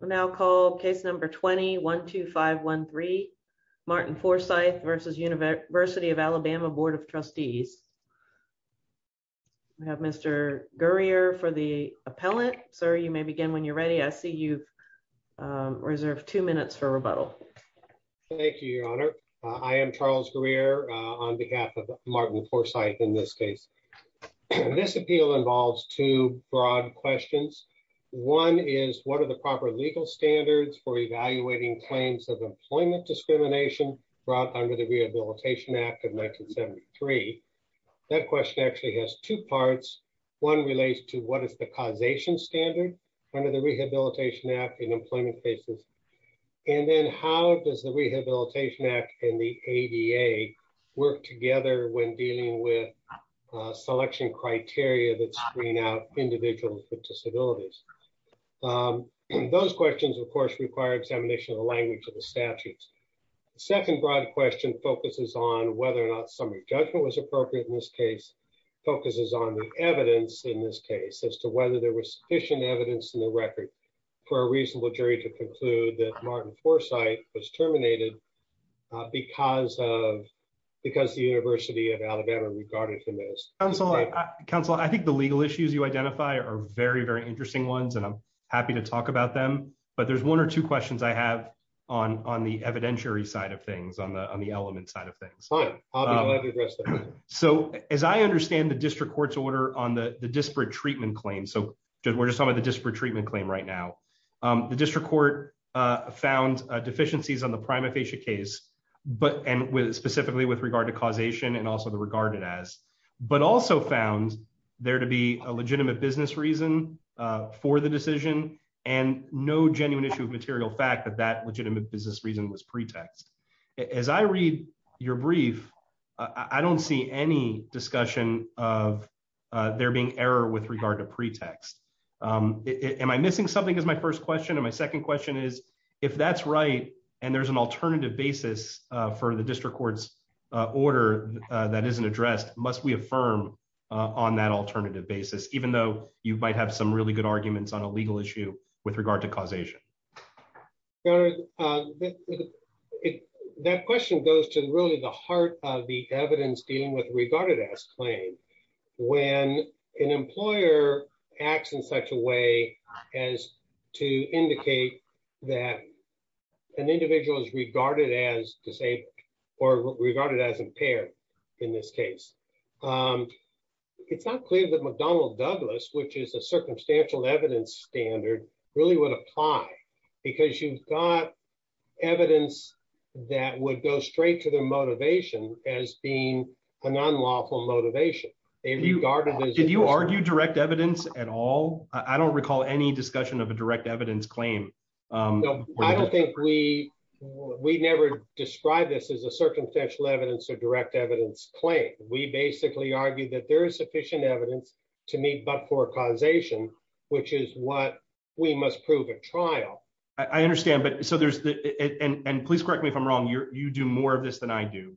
We'll now call case number 20-12513, Martin Forsyth v. University of Alabama, Board of Trustees. We have Mr. Gurrier for the appellant. Sir, you may begin when you're ready. I see you've reserved two minutes for rebuttal. Thank you, Your Honor. I am Charles Gurrier on behalf of What are the proper legal standards for evaluating claims of employment discrimination brought under the Rehabilitation Act of 1973? That question actually has two parts. One relates to what is the causation standard under the Rehabilitation Act in employment cases, and then how does the Rehabilitation Act and the ADA work together when dealing with selection criteria that screen out individuals with disabilities? Those questions, of course, require examination of the language of the statute. The second broad question focuses on whether or not summary judgment was appropriate in this case, focuses on the evidence in this case as to whether there was sufficient evidence in the record for a reasonable jury to conclude that Martin Forsyth was terminated because the University of Alabama regarded him as... Counselor, I think the legal issues you identify are very, very interesting ones, and I'm happy to talk about them, but there's one or two questions I have on the evidentiary side of things, on the element side of things. So as I understand the district court's order on the disparate treatment claim, so we're just talking about the disparate treatment claim right now, the district court found deficiencies on the regarded as, but also found there to be a legitimate business reason for the decision and no genuine issue of material fact that that legitimate business reason was pretext. As I read your brief, I don't see any discussion of there being error with regard to pretext. Am I missing something is my first question, and my second question is, if that's right, and there's an alternative basis for the district court's order that isn't addressed, must we affirm on that alternative basis, even though you might have some really good arguments on a legal issue with regard to causation? That question goes to really the heart of the evidence dealing with regarded as claim. When an employer acts in such a way as to indicate that an individual is regarded as disabled, or regarded as impaired, in this case, it's not clear that McDonnell Douglas, which is a circumstantial evidence standard, really would apply, because you've got evidence that would go straight to the motivation as being an unlawful motivation. Did you argue direct evidence at all? I don't recall any discussion of a direct evidence claim. We never described this as a circumstantial evidence or direct evidence claim. We basically argued that there is sufficient evidence to meet but for causation, which is what we must prove at trial. I understand. Please correct me if I'm wrong. You do more of this than I do.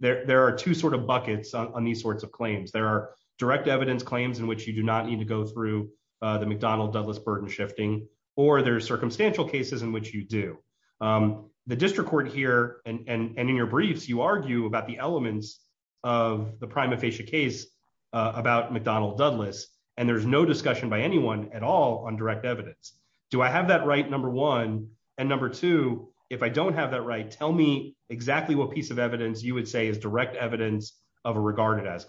There are two buckets on these sorts of claims. There are direct evidence claims in which you do not need to go through the McDonnell Douglas burden shifting, or there's circumstantial cases in which you do. The district court here, and in your briefs, you argue about the elements of the prima facie case about McDonnell Douglas, and there's no discussion by anyone at all on direct evidence. Do I have that right, number one? Number two, if I don't have that right, tell me exactly what piece of evidence you would say is direct evidence of a regarded as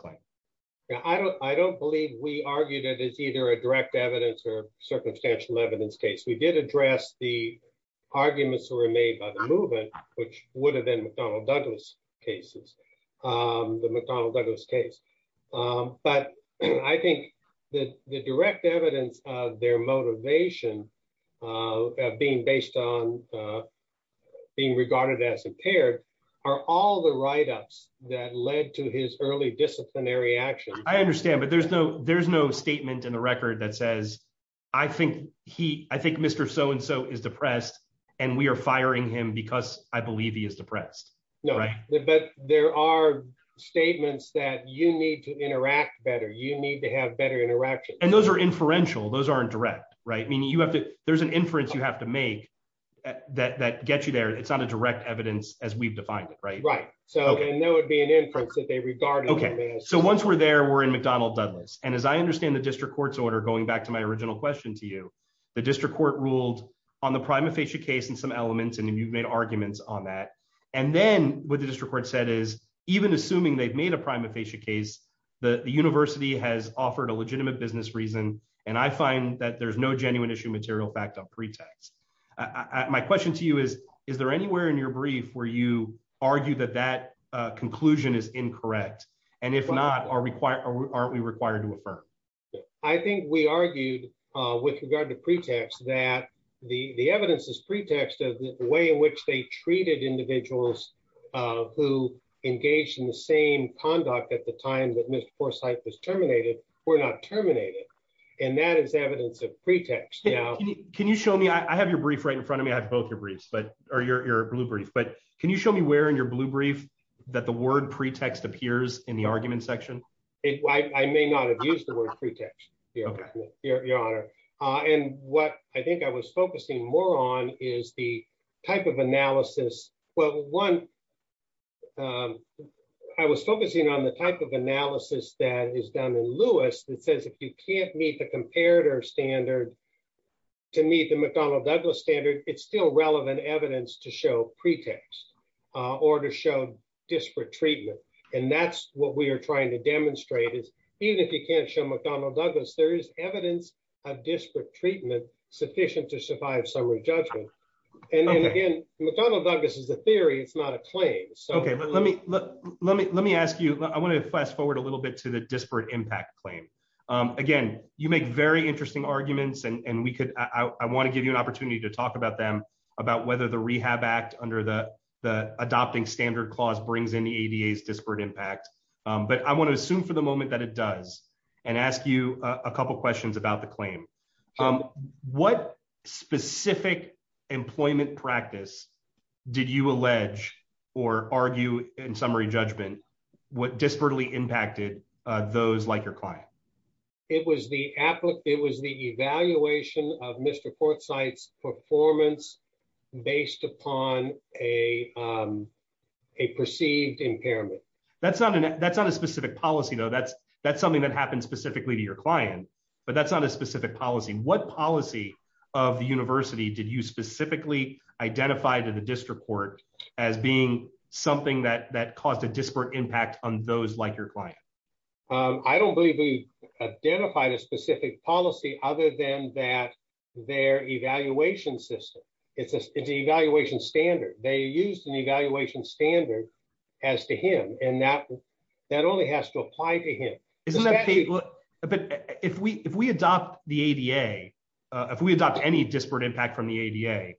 Yeah, I don't believe we argued it as either a direct evidence or circumstantial evidence case. We did address the arguments that were made by the movement, which would have been McDonnell Douglas cases, the McDonnell Douglas case. But I think that the direct evidence of their motivation being based on being regarded as impaired are all the write-ups that led to his early disciplinary action. I understand, but there's no statement in the record that says, I think Mr. So-and-so is depressed, and we are firing him because I believe he is depressed. No, but there are statements that you need to interact better. You need to have better interaction. And those are inferential. Those aren't direct, right? Meaning you have to, there's an inference you have to make that gets you there. It's not a direct evidence as we've defined it, right? Right. So, and there would be an inference that they regarded as. Okay, so once we're there, we're in McDonnell Douglas. And as I understand the district court's order, going back to my original question to you, the district court ruled on the prima facie case and some elements, and you've made arguments on that. And then what the district court said is, even assuming they've made a prima facie case, the university has offered a legitimate business reason. And I find that there's no genuine issue material fact on pretext. My question to you is, is there anywhere in your brief where you argue that that conclusion is incorrect? And if not, aren't we required to affirm? I think we argued with regard to pretext that the evidence is the same conduct at the time that Mr. Forsythe was terminated. We're not terminated. And that is evidence of pretext. Can you show me, I have your brief right in front of me. I have both your briefs, but, or your blue brief, but can you show me where in your blue brief that the word pretext appears in the argument section? I may not have used the word pretext, your honor. And what I was focusing more on is the type of analysis. Well, one, I was focusing on the type of analysis that is done in Lewis that says, if you can't meet the comparator standard to meet the McDonnell Douglas standard, it's still relevant evidence to show pretext or to show disparate treatment. And that's what we are trying to demonstrate is even if you can't show McDonnell Douglas, there is evidence of disparate treatment sufficient to survive summary judgment. And then again, McDonnell Douglas is a theory. It's not a claim. Okay. Let me, let me, let me ask you, I want to fast forward a little bit to the disparate impact claim. Again, you make very interesting arguments and we could, I want to give you an opportunity to talk about them, about whether the rehab act under the, the adopting standard clause brings in the ADA disparate impact. But I want to assume for the moment that it does and ask you a couple of questions about the claim. What specific employment practice did you allege or argue in summary judgment, what disparately impacted those like your client? It was the applet. It was the evaluation of Mr. Port sites performance based upon a, a perceived impairment. That's not an, that's not a specific policy though. That's, that's something that happens specifically to your client, but that's not a specific policy. What policy of the university did you specifically identify to the district court as being something that, that caused a disparate impact on those like your client? I don't believe we've identified a specific policy other than that, their evaluation system. It's a, it's an evaluation standard. They used the evaluation standard as to him. And that, that only has to apply to him. But if we, if we adopt the ADA, if we adopt any disparate impact from the ADA,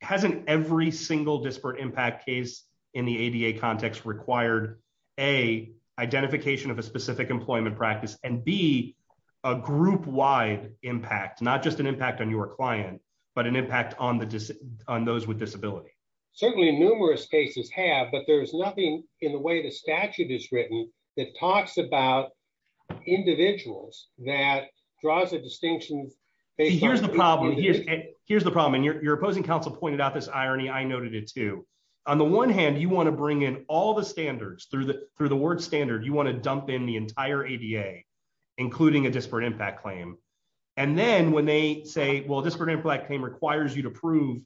hasn't every single disparate impact case in the ADA context required a identification of a specific employment practice and be a group wide impact, not just an impact on your client, but an impact on the dis on those with disability. Certainly numerous cases have, but there's nothing in the way the statute is written that talks about individuals that draws a distinction. Here's the problem. Here's the problem. And your opposing counsel pointed out this irony. I noted it too. On the one hand, you want to bring in all the standards through the, through the word standard, you want to dump in the entire ADA, including a disparate impact claim. And then when they say, well, this we're going to black team requires you to prove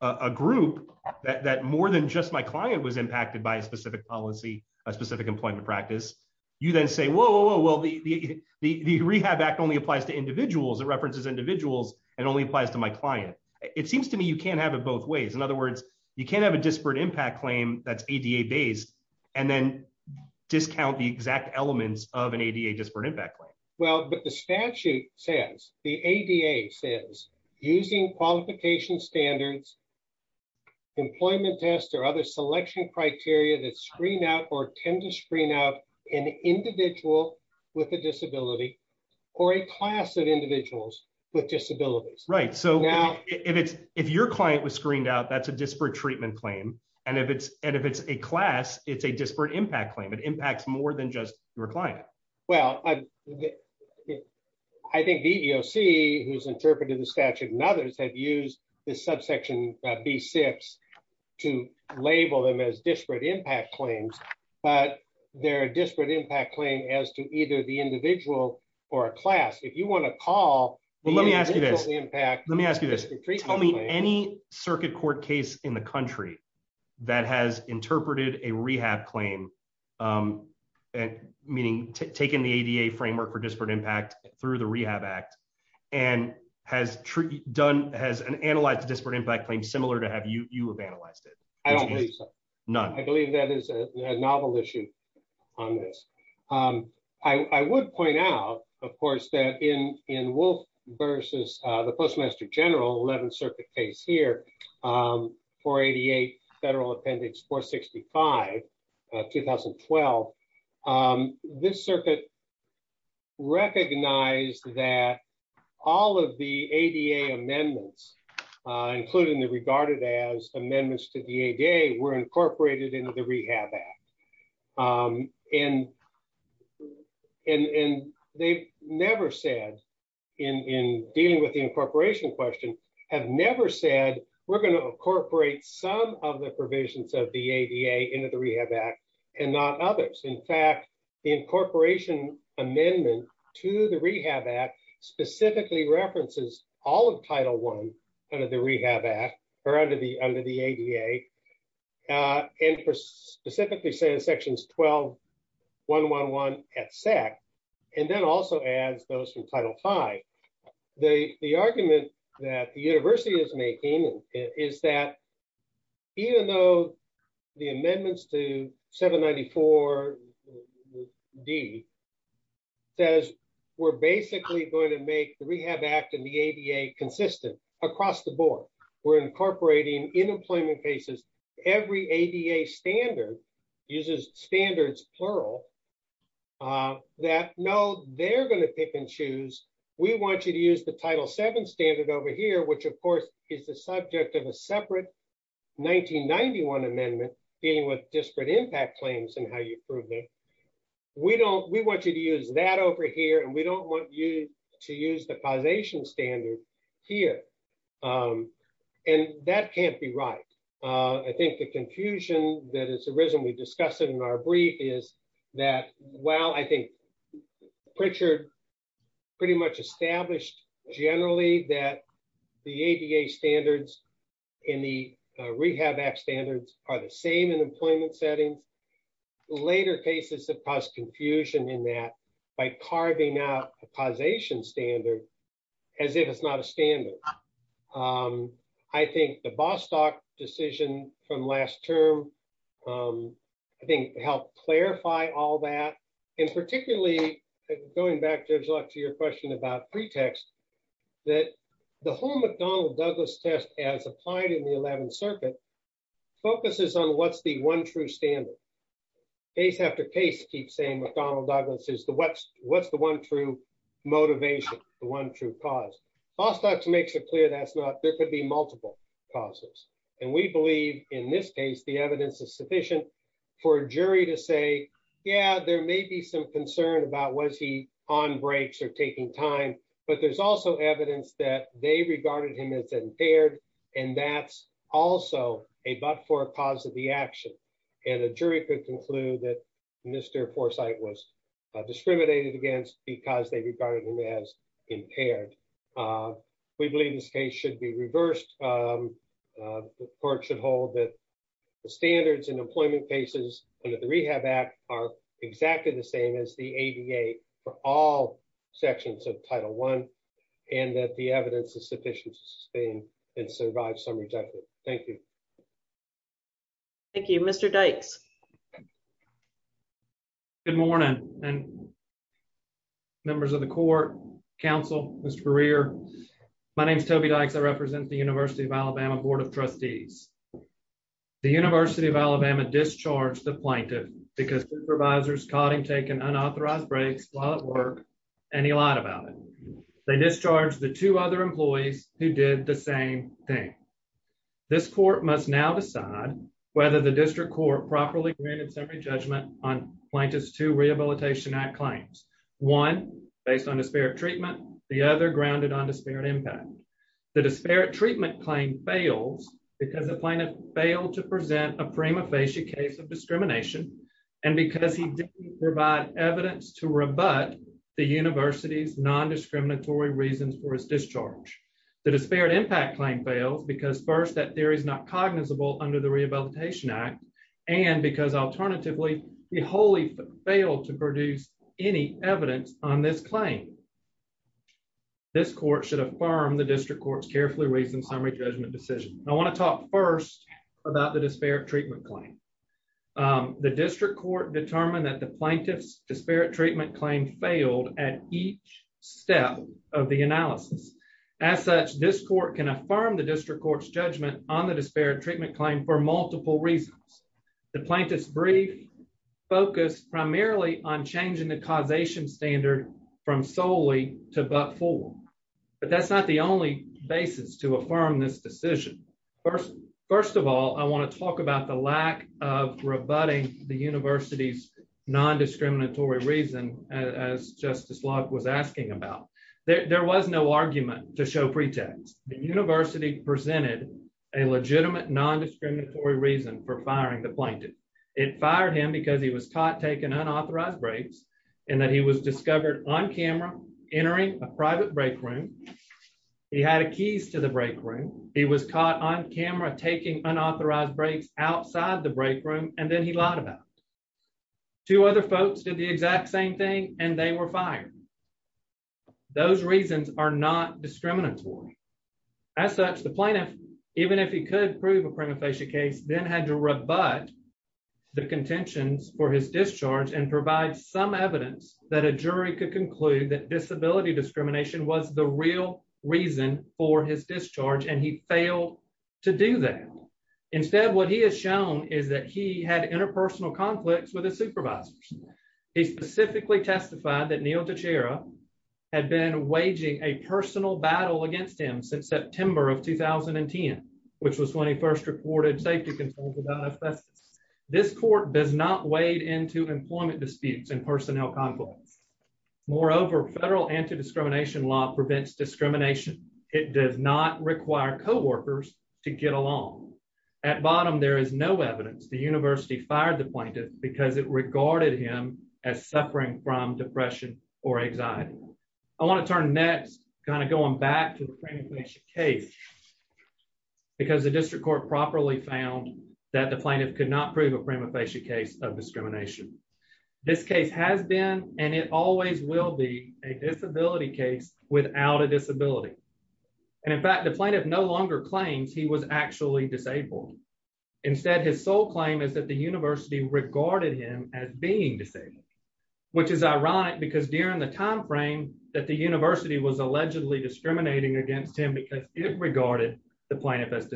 a group that more than just my client was impacted by a specific policy, a specific employment practice. You then say, Whoa, Whoa, Whoa. Well, the, the, the rehab act only applies to individuals that references individuals and only applies to my client. It seems to me, you can't have it both ways. In other words, you can't have a disparate impact claim that's ADA based and then discount the exact elements of an ADA disparate impact claim. Well, but the statute says the ADA says using qualification standards, employment tests, or other selection criteria that screen out, or tend to screen out an individual with a disability or a class of individuals with disabilities. Right. So now if it's, if your client was screened out, that's a disparate treatment claim. And if it's, and if it's a class, it's a disparate impact claim. It impacts more than just your client. Well, I think the EEOC who's interpreted the statute and others have used the subsection B six to label them as disparate impact claims, but they're a disparate impact claim as to either the individual or a class. If you want to call, well, let me ask you this. Let me ask you this. Tell me any circuit court case in the country that has interpreted a rehab claim meaning taken the ADA framework for disparate impact through the rehab act and has done, has an analyzed disparate impact claim similar to have you, you have analyzed it. I don't believe so. None. I believe that is a novel issue on this. I would point out, of course, that in, in Wolf versus the postmaster general 11th circuit case here for ADA federal appendix four 65 2012. This circuit recognized that all of the ADA amendments, including the regarded as amendments to the ADA were incorporated into the rehab act. And, and, and they've never said in, in dealing with the incorporation question have never said we're going to incorporate some of the provisions of the ADA into the rehab act and not others. In fact, the incorporation amendment to the rehab act specifically references all of title one under the rehab act or under the, under the ADA and for specifically say in sections 12, one, one, one at SAC. And then also as those from title five, the, the argument that the is that even though the amendments to seven 94 D says we're basically going to make the rehab act and the ADA consistent across the board, we're incorporating in employment cases. Every ADA standard uses standards, plural that no, they're going to pick and choose. We want you to use the title seven standard over here, which of course is the subject of a separate 1991 amendment dealing with disparate impact claims and how you prove it. We don't, we want you to use that over here and we don't want you to use the causation standard here. And that can't be right. I think the confusion that has arisen, we discussed it in our brief is that, well, I think Pritchard pretty much established generally that the ADA standards in the rehab act standards are the same in employment settings. Later cases have caused confusion in that by carving out a causation standard as if it's not a standard. I think the Bostock decision from last term, I think helped clarify all that. And particularly going back to your question about pretext, that the whole McDonnell Douglas test as applied in the 11th circuit focuses on what's the one true standard. Case after case keep saying McDonnell Douglas is the, what's, what's the one true motivation, the one true cause. Bostock makes it clear that's not, there could be multiple causes. And we believe in this case, the evidence is sufficient for a jury to say, yeah, there may be some concern about was he on breaks or taking time, but there's also evidence that they regarded him as impaired. And that's also a, but for a positive, the action and a jury could conclude that Mr. Foresight was discriminated against because they regarded him as impaired. We believe this case should be reversed. The court should hold that the standards and employment cases and that the rehab act are exactly the same as the ADA for all sections of title one, and that the evidence is sufficient to sustain and survive some rejected. Thank you. Thank you, Mr. Dykes. Good morning and members of the court council, Mr. Greer. My name is Toby Dykes. I represent the University of Alabama Board of Trustees. The University of Alabama discharged the plaintiff because supervisors caught him taking unauthorized breaks while at work and he lied about it. They must now decide whether the district court properly granted summary judgment on plaintiff's two rehabilitation act claims. One based on disparate treatment, the other grounded on disparate impact. The disparate treatment claim fails because the plaintiff failed to present a prima facie case of discrimination. And because he didn't provide evidence to rebut the university's non-discriminatory reasons for his discharge. The disparate impact claim fails because first that is not cognizable under the rehabilitation act. And because alternatively, he wholly failed to produce any evidence on this claim. This court should affirm the district court's carefully reasoned summary judgment decision. I want to talk first about the disparate treatment claim. The district court determined that the plaintiff's disparate treatment claim failed at each step of analysis. As such, this court can affirm the district court's judgment on the disparate treatment claim for multiple reasons. The plaintiff's brief focused primarily on changing the causation standard from solely to but for. But that's not the only basis to affirm this decision. First of all, I want to talk about the lack of rebutting the university's non-discriminatory reason as Justice Locke was asking about. There was no argument to show pretext. The university presented a legitimate non-discriminatory reason for firing the plaintiff. It fired him because he was caught taking unauthorized breaks and that he was discovered on camera entering a private break room. He had keys to the break room. He was caught on camera taking unauthorized breaks outside the break room and then he lied about it. Two other folks did the exact same thing and they were fired. Those reasons are not discriminatory. As such, the plaintiff, even if he could prove a prima facie case, then had to rebut the contentions for his discharge and provide some evidence that a jury could conclude that disability discrimination was the reason for his discharge and he failed to do that. Instead, what he has shown is that he had interpersonal conflicts with his supervisors. He specifically testified that Neil Teixeira had been waging a personal battle against him since September of 2010, which was when he first reported safety concerns about his presence. This court does not wade into employment disputes and discrimination. It does not require co-workers to get along. At bottom, there is no evidence the university fired the plaintiff because it regarded him as suffering from depression or anxiety. I want to turn next kind of going back to the prima facie case because the district court properly found that the plaintiff could not prove a prima facie case of discrimination. This case has been and it always will be a disability case without a disability. In fact, the plaintiff no longer claims he was actually disabled. Instead, his sole claim is that the university regarded him as being disabled, which is ironic because during the time frame that the university was allegedly discriminating against him because it regarded the plaintiff as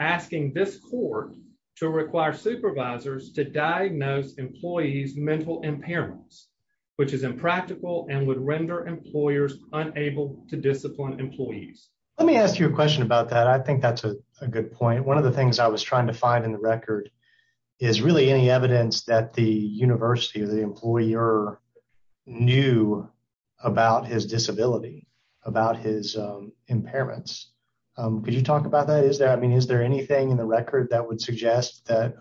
asking this court to require supervisors to diagnose employees' mental impairments, which is impractical and would render employers unable to discipline employees. Let me ask you a question about that. I think that's a good point. One of the things I was trying to find in the record is really any evidence that the university or the employer knew about his disability, about his impairments. Could you talk about that? I mean, is there anything in the record that would suggest that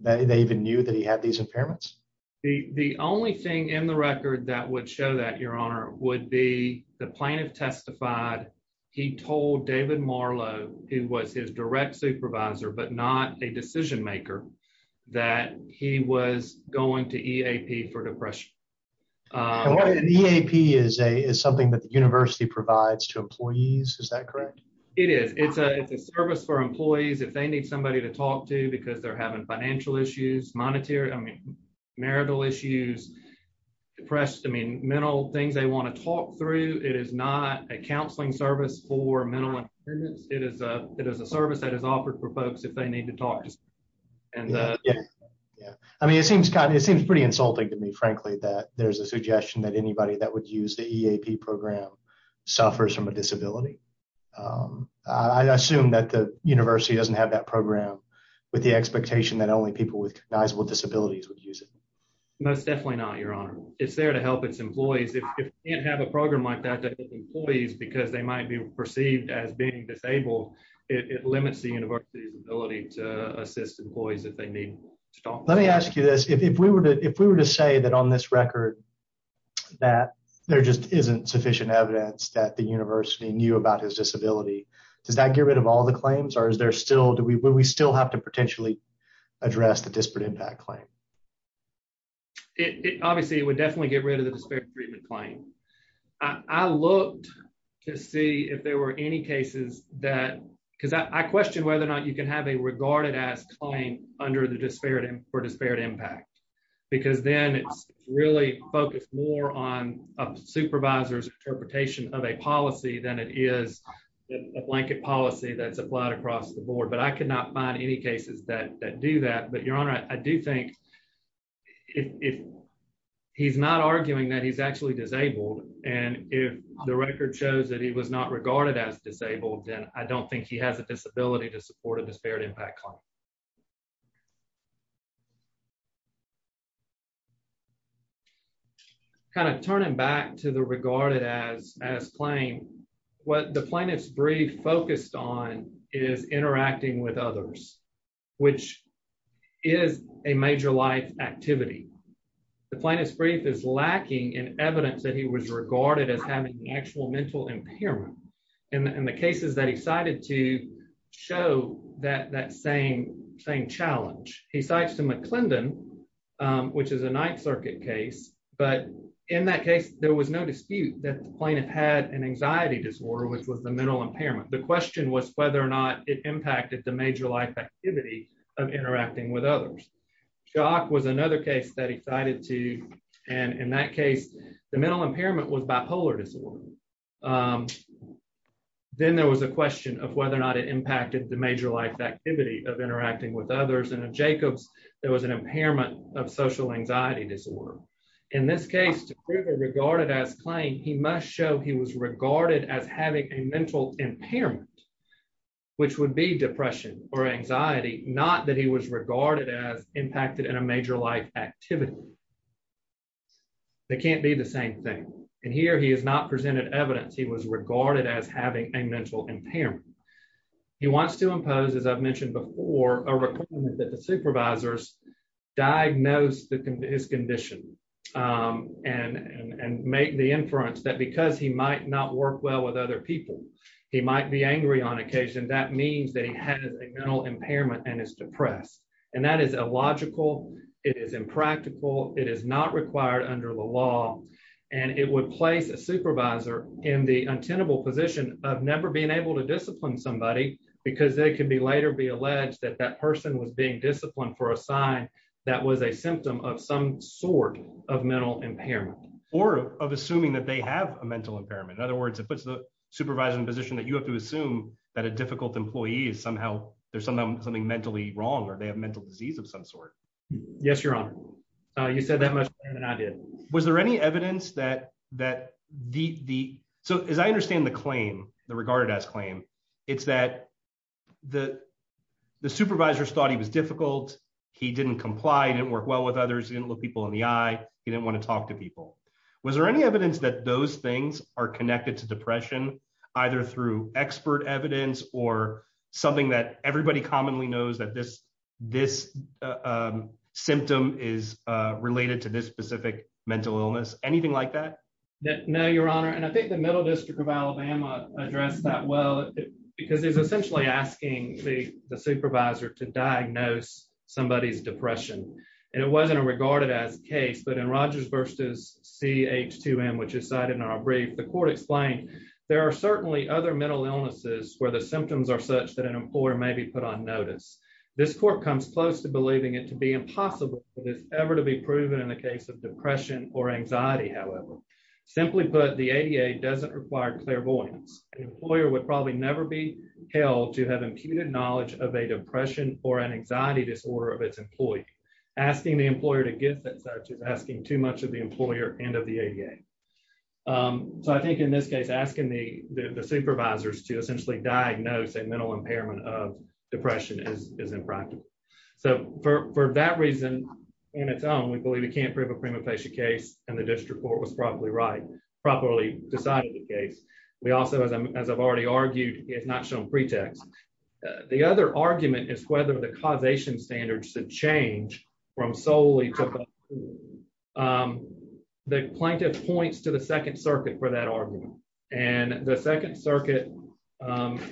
they even knew that he had these impairments? The only thing in the record that would show that, your honor, would be the plaintiff testified he told David Marlow, who was his direct supervisor but not a decision maker, that he was going to EAP for depression. EAP is something that the university provides to employees, is that correct? It is. It's a service for employees if they need somebody to talk to because they're having financial issues, marital issues, mental things they want to talk through. It is not a counseling service for mental impairments. It is a service that is offered for folks if they need to there's a suggestion that anybody that would use the EAP program suffers from a disability. I assume that the university doesn't have that program with the expectation that only people with recognizable disabilities would use it. Most definitely not, your honor. It's there to help its employees. If you can't have a program like that to help employees because they might be perceived as being disabled, it limits the university's ability to assist employees if they Let me ask you this. If we were to say that on this record that there just isn't sufficient evidence that the university knew about his disability, does that get rid of all the claims or do we still have to potentially address the disparate impact claim? It obviously would definitely get rid of the disparate treatment claim. I looked to see if there were any cases that, because I questioned whether or not you can have a regarded as claim under the disparate for disparate impact because then it's really focused more on a supervisor's interpretation of a policy than it is a blanket policy that's applied across the board. But I could not find any cases that do that. But your honor, I do think if he's not arguing that he's actually disabled and if the record shows that was not regarded as disabled, then I don't think he has a disability to support a disparate impact claim. Kind of turning back to the regarded as claim, what the plaintiff's brief focused on is interacting with others, which is a major life activity. The plaintiff's brief is lacking in evidence that he was regarded as having actual mental impairment. In the cases that he cited to show that same challenge. He cites to McClendon, which is a Ninth Circuit case, but in that case there was no dispute that the plaintiff had an anxiety disorder, which was the mental impairment. The question was whether or not it impacted the major life activity of interacting with others. Shock was another case that he cited to, and in that case, the mental impairment was bipolar disorder. Then there was a question of whether or not it impacted the major life activity of interacting with others. And in Jacobs, there was an impairment of social anxiety disorder. In this case, to prove a regarded as claim, he must show he was regarded as having a mental impairment, which would be depression or anxiety, not that he was regarded as impacted in a major life activity. They can't be the same thing. And here he is not presented evidence he was regarded as having a mental impairment. He wants to impose, as I've mentioned before, a requirement that the supervisors diagnose his condition and make the inference that because he might not work well with other people, he might be angry on occasion. That means that he has a mental impairment and is depressed. And that is illogical. It is impractical. It is not required under the law. And it would place a supervisor in the untenable position of never being able to discipline somebody because they can be later be alleged that that person was being disciplined for a sign that was a symptom of some sort of mental impairment. Or of assuming that they have a supervisor in a position that you have to assume that a difficult employee is somehow there's something mentally wrong or they have mental disease of some sort. Yes, your honor. You said that much better than I did. Was there any evidence that that the so as I understand the claim, the regarded as claim, it's that the the supervisors thought he was difficult. He didn't comply, didn't work well with others, didn't look people in the eye. He didn't want to talk to people. Was there any that those things are connected to depression either through expert evidence or something that everybody commonly knows that this this symptom is related to this specific mental illness? Anything like that? No, your honor. And I think the middle district of Alabama addressed that well, because it's essentially asking the supervisor to diagnose somebody's depression. And it wasn't a regarded as case. But in Rogers versus CH2M, which is cited in our brief, the court explained, there are certainly other mental illnesses where the symptoms are such that an employer may be put on notice. This court comes close to believing it to be impossible for this ever to be proven in the case of depression or anxiety. However, simply put, the ADA doesn't require clairvoyance. Employer would probably never be held to have imputed knowledge of a depression or an anxiety disorder of its employee, asking the employer to get that such as asking too much of the employer and of the ADA. So I think in this case, asking the supervisors to essentially diagnose a mental impairment of depression is impractical. So for that reason, in its own, we believe we can't prove a prima facie case and the district court was probably right, properly decided the case. We also, as I've already argued, it's not shown pretext. The other argument is whether the causation standards should change from solely to the plaintiff points to the second circuit for that argument. And the second circuit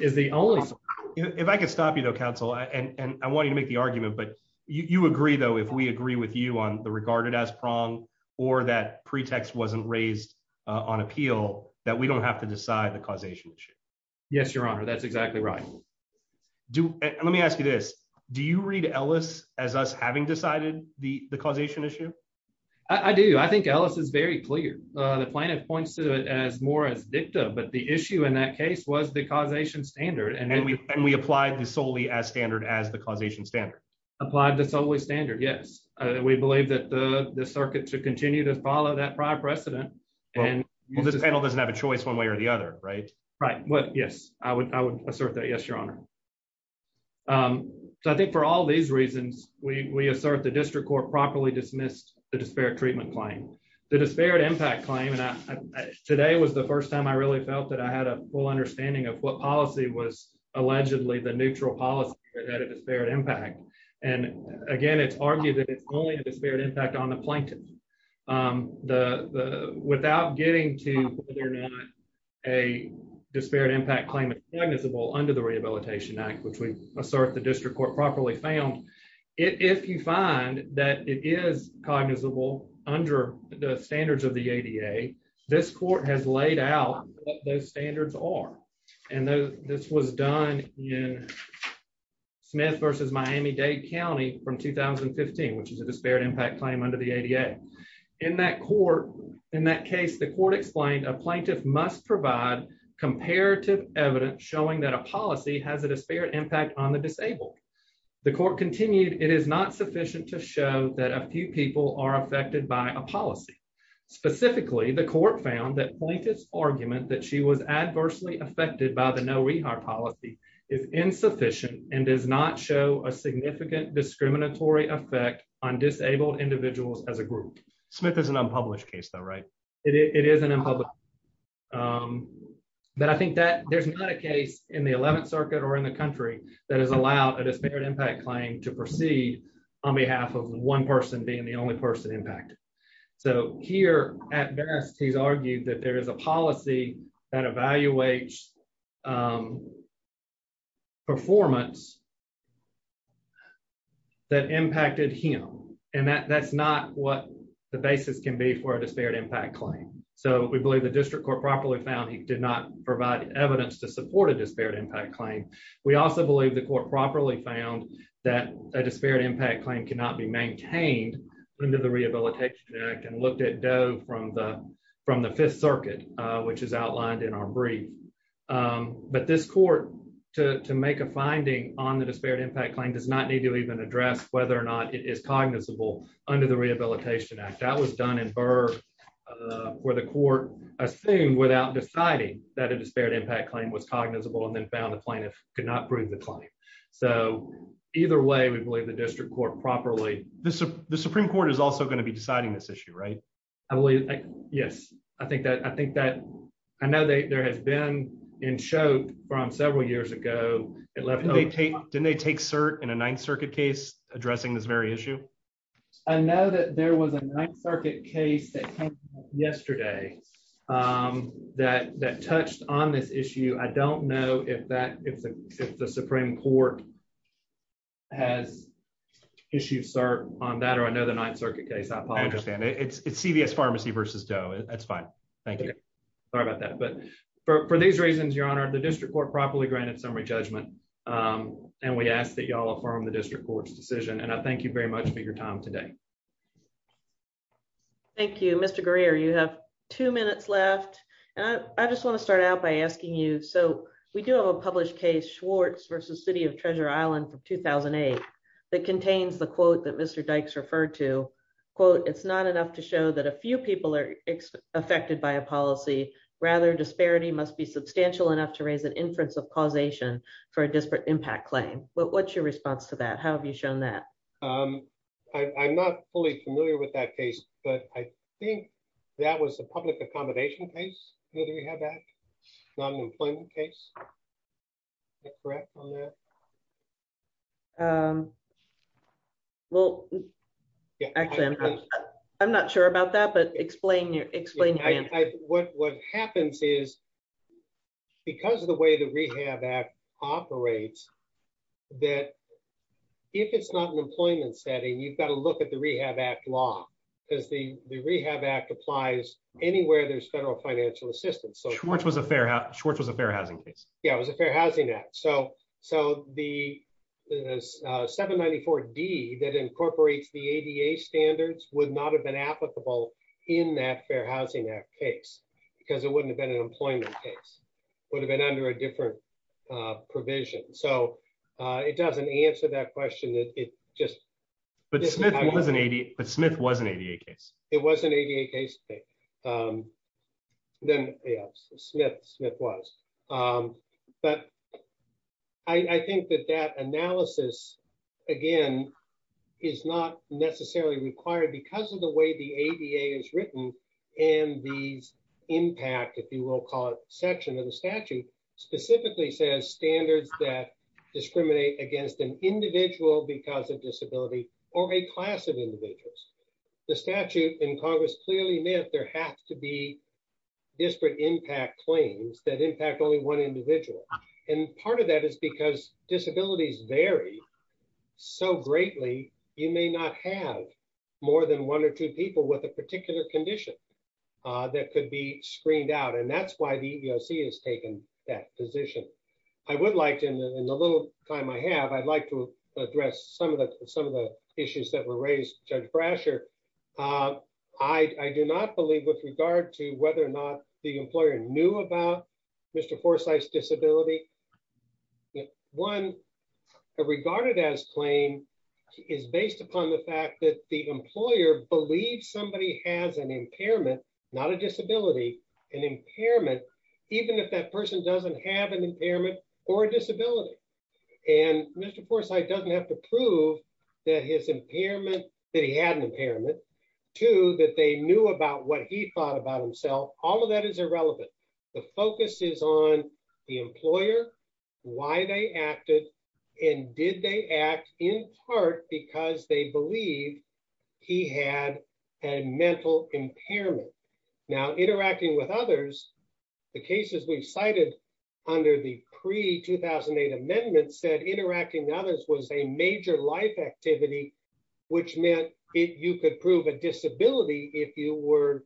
is the only... If I could stop you though, counsel, and I want you to make the argument, but you agree though, if we agree with you on the regarded as or that pretext wasn't raised on appeal, that we don't have to decide the causation issue. Yes, your honor. That's exactly right. Let me ask you this. Do you read Ellis as us having decided the causation issue? I do. I think Ellis is very clear. The plaintiff points to it as more as dicta, but the issue in that case was the causation standard. And then we applied the solely as standard as the causation standard. Applied the solely standard. Yes. We believe that the circuit to continue to follow that prior precedent and... Well, this panel doesn't have a choice one way or the other, right? Right. Yes. I would assert that. Yes, your honor. So I think for all these reasons, we assert the district court properly dismissed the disparate treatment claim. The disparate impact claim. And today was the first time I really felt that I had a full understanding of what policy was allegedly the neutral policy at a disparate impact. And again, it's argued that it's only a disparate impact on the plaintiff. Without getting to whether or not a disparate impact claim is cognizable under the Rehabilitation Act, which we assert the district court properly found. If you find that it is cognizable under the standards of the ADA, this court has laid out those standards are. And this was done in Smith versus Miami Dade County from 2015, which is a disparate impact claim under the ADA. In that case, the court explained a plaintiff must provide comparative evidence showing that a policy has a disparate impact on the disabled. The court continued, it is not sufficient to show that a few people are affected by a policy. Specifically, the court found that plaintiff's argument that she was adversely affected by the no rehire policy is insufficient and does not show a significant discriminatory effect on disabled individuals as a group. Smith is an unpublished case, though, right? It is an unpublished. But I think that there's not a case in the 11th Circuit or in the country that has allowed a disparate impact claim to proceed on behalf of one person being the only person impacted. So here at best, he's argued that there is a policy that evaluates performance that impacted him. And that's not what the basis can be for a disparate impact claim. So we believe the district court properly found he did not provide evidence to support a disparate impact claim. We also believe the court properly found that a disparate impact claim cannot be maintained under the Rehabilitation Act and looked at Doe from the Fifth Circuit, which is outlined in our brief. But this court to make a finding on the disparate impact claim does not need to even address whether or not it is cognizable under the Rehabilitation Act. That was done in Burr where the court assumed without deciding that a disparate impact claim was cognizable and then found the plaintiff could not prove the claim. So either way, we believe the district court properly. The Supreme Court is also going to be deciding this issue, right? I believe. Yes, I think that I think that I know that there has been in show from several years ago. It left. Didn't they take cert in a Ninth Circuit case addressing this very issue? I know that there was a Ninth Circuit case that came yesterday that that touched on this issue. I don't know if that if the Supreme Court. Has issued cert on that or another Ninth Circuit case. I understand it's CVS Pharmacy versus Doe. That's fine. Thank you. Sorry about that. But for these reasons, Your Honor, the district court properly granted summary judgment. And we ask that you all affirm the district court's decision. And I thank you very much for your time today. Thank you, Mr. Greer. You have two minutes left and I just want to start out by asking you. So we do have a published case Schwartz versus City of Treasure Island from 2008 that contains the quote that Mr. Dykes referred to quote. It's not enough to show that a few people are affected by a policy. Rather, disparity must be substantial enough to raise an inference of causation for a disparate impact claim. But what's your response to that? How have you shown that I'm not fully familiar with that case, but I think that was a public accommodation case that you had that non-employment case. Well, I'm not sure about that, but explain your explain what happens is. Because of the way that we have that operates, that if it's not an employment setting, you've got to look at the Rehab Act law because the Rehab Act applies anywhere there's federal financial assistance. So Schwartz was a fair housing case. Yeah, it was a fair housing act. So the 794D that incorporates the ADA standards would not have been applicable in that fair housing act case because it wouldn't have been an employment case. Would have been under a different provision. So it doesn't answer that question. But Smith was an ADA case. It was an ADA case. I think that that analysis, again, is not necessarily required because of the way the ADA is written and these impact, if you will, call it section of the statute specifically says standards that discriminate against an individual because of disability or a class of individuals. The statute in Congress clearly meant there has to be disparate impact claims that impact only one individual. And part of that is because disabilities vary so greatly, you may not have more than one or two people with a particular condition that could be screened out. And that's why the EEOC has taken that position. I would like to, in the little time I have, I'd like to address some of the issues that were raised. Judge Brasher, I do not believe with regard to whether or not the employer knew about Mr. Forsythe's disability. One, a regarded as claim is based upon the fact that the employer believes somebody has an impairment, not a disability, an impairment, even if that person doesn't have an impairment or a disability. And Mr. Forsythe doesn't have to prove that his impairment, that he had an impairment. Two, that they knew about what he thought about himself. All of that is irrelevant. The focus is on the employer, why they acted, and did they act in part because they believed he had a mental impairment. Now, interacting with others, the cases we cited under the pre-2008 amendment said interacting with others was a major life activity, which meant you could prove a disability if you were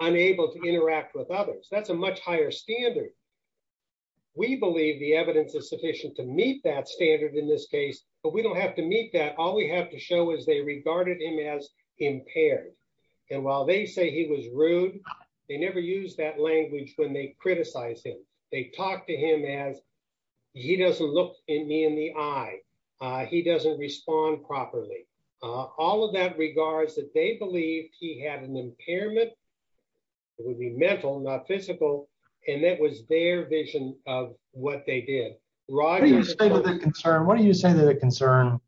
unable to interact with others. That's a much higher standard. We believe the evidence is sufficient to meet that standard in this case, but we don't have to meet that. All we have to show is they regarded him as impaired. And while they say he was rude, they never use that language when they criticize him. They talk to him as, he doesn't look me in the eye. He doesn't respond properly. All of that regards that they believe he had an impairment. It would be mental, not physical. And that was their vision of what they did. What do you say to the concern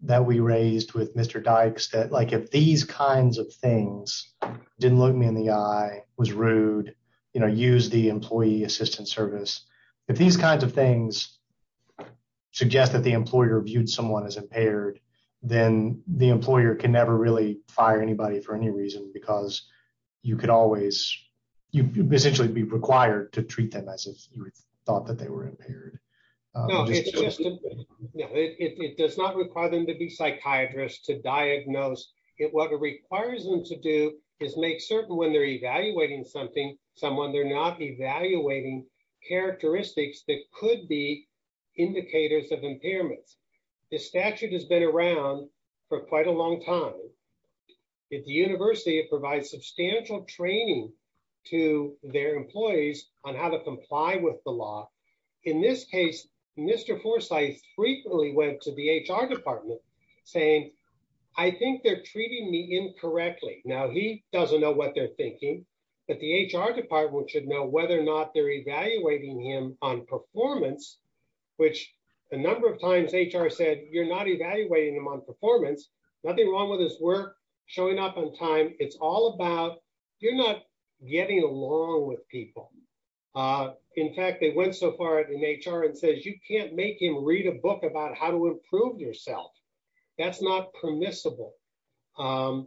that we raised with Mr. Dykes that like, if these kinds of things didn't look me in the eye, was rude, you know, use the employee assistance service. If these kinds of things suggest that the employer viewed someone as impaired, then the employer can never really fire anybody for any reason, because you could always, you essentially be required to treat them as if you thought that they were impaired. It does not require them to be psychiatrists to diagnose it. What it requires them to do is make certain when they're evaluating something, someone they're not evaluating characteristics that could be indicators of impairments. The statute has been around for quite a long time. At the university, it provides substantial training to their employees on how to comply with the law. In this case, Mr. Forsyth frequently went to the HR department saying, I think they're treating me incorrectly. Now, he doesn't know what they're thinking, but the HR department should know whether or not they're evaluating him on performance, which a number of times HR said, you're not evaluating him on performance, nothing wrong with his work, showing up on time. It's all about, you're not getting along with people. In fact, they went so far in HR and says, you can't make him read a book about how to improve yourself. That's not permissible. HR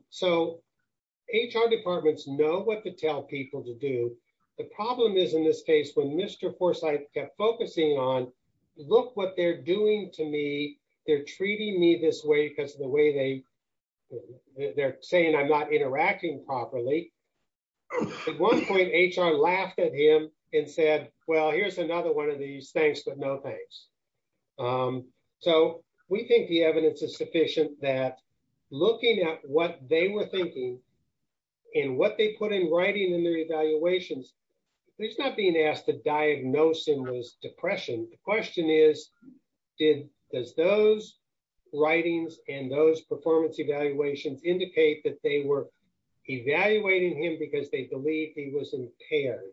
departments know what to tell people to do. The problem is in this case when Mr. Forsyth kept focusing on, look what they're doing to me. They're treating me this way because of the way they're saying I'm not interacting properly. At one point, HR laughed at him and said, well, here's another one of these things, but no thanks. We think the evidence is sufficient that looking at what they were thinking and what they put in writing in their evaluations, he's not being asked to diagnose him with depression. The question is, does those writings and those performance evaluations indicate that they were evaluating him because they believe he was impaired?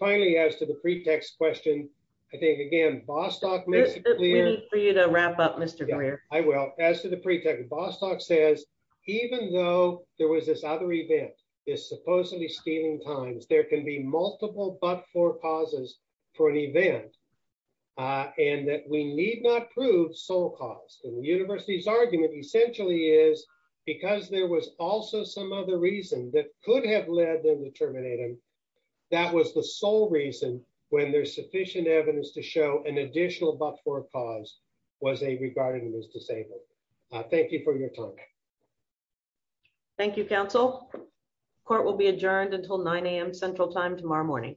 Finally, as to the pretext question, I think again, Bostock- We need for you to wrap up, Mr. Greer. I will. As to the pretext, Bostock says, even though there was this other event, this supposedly stealing times, there can be multiple but-for pauses for an event and that we need not prove sole cause. The university's argument essentially is because there was also some other reason that could have led them to terminate him. That was the sole reason when there's sufficient evidence to show an additional but-for cause was they regarded him as disabled. Thank you for your time. Thank you, counsel. Court will be adjourned until 9 a.m. Central time tomorrow morning.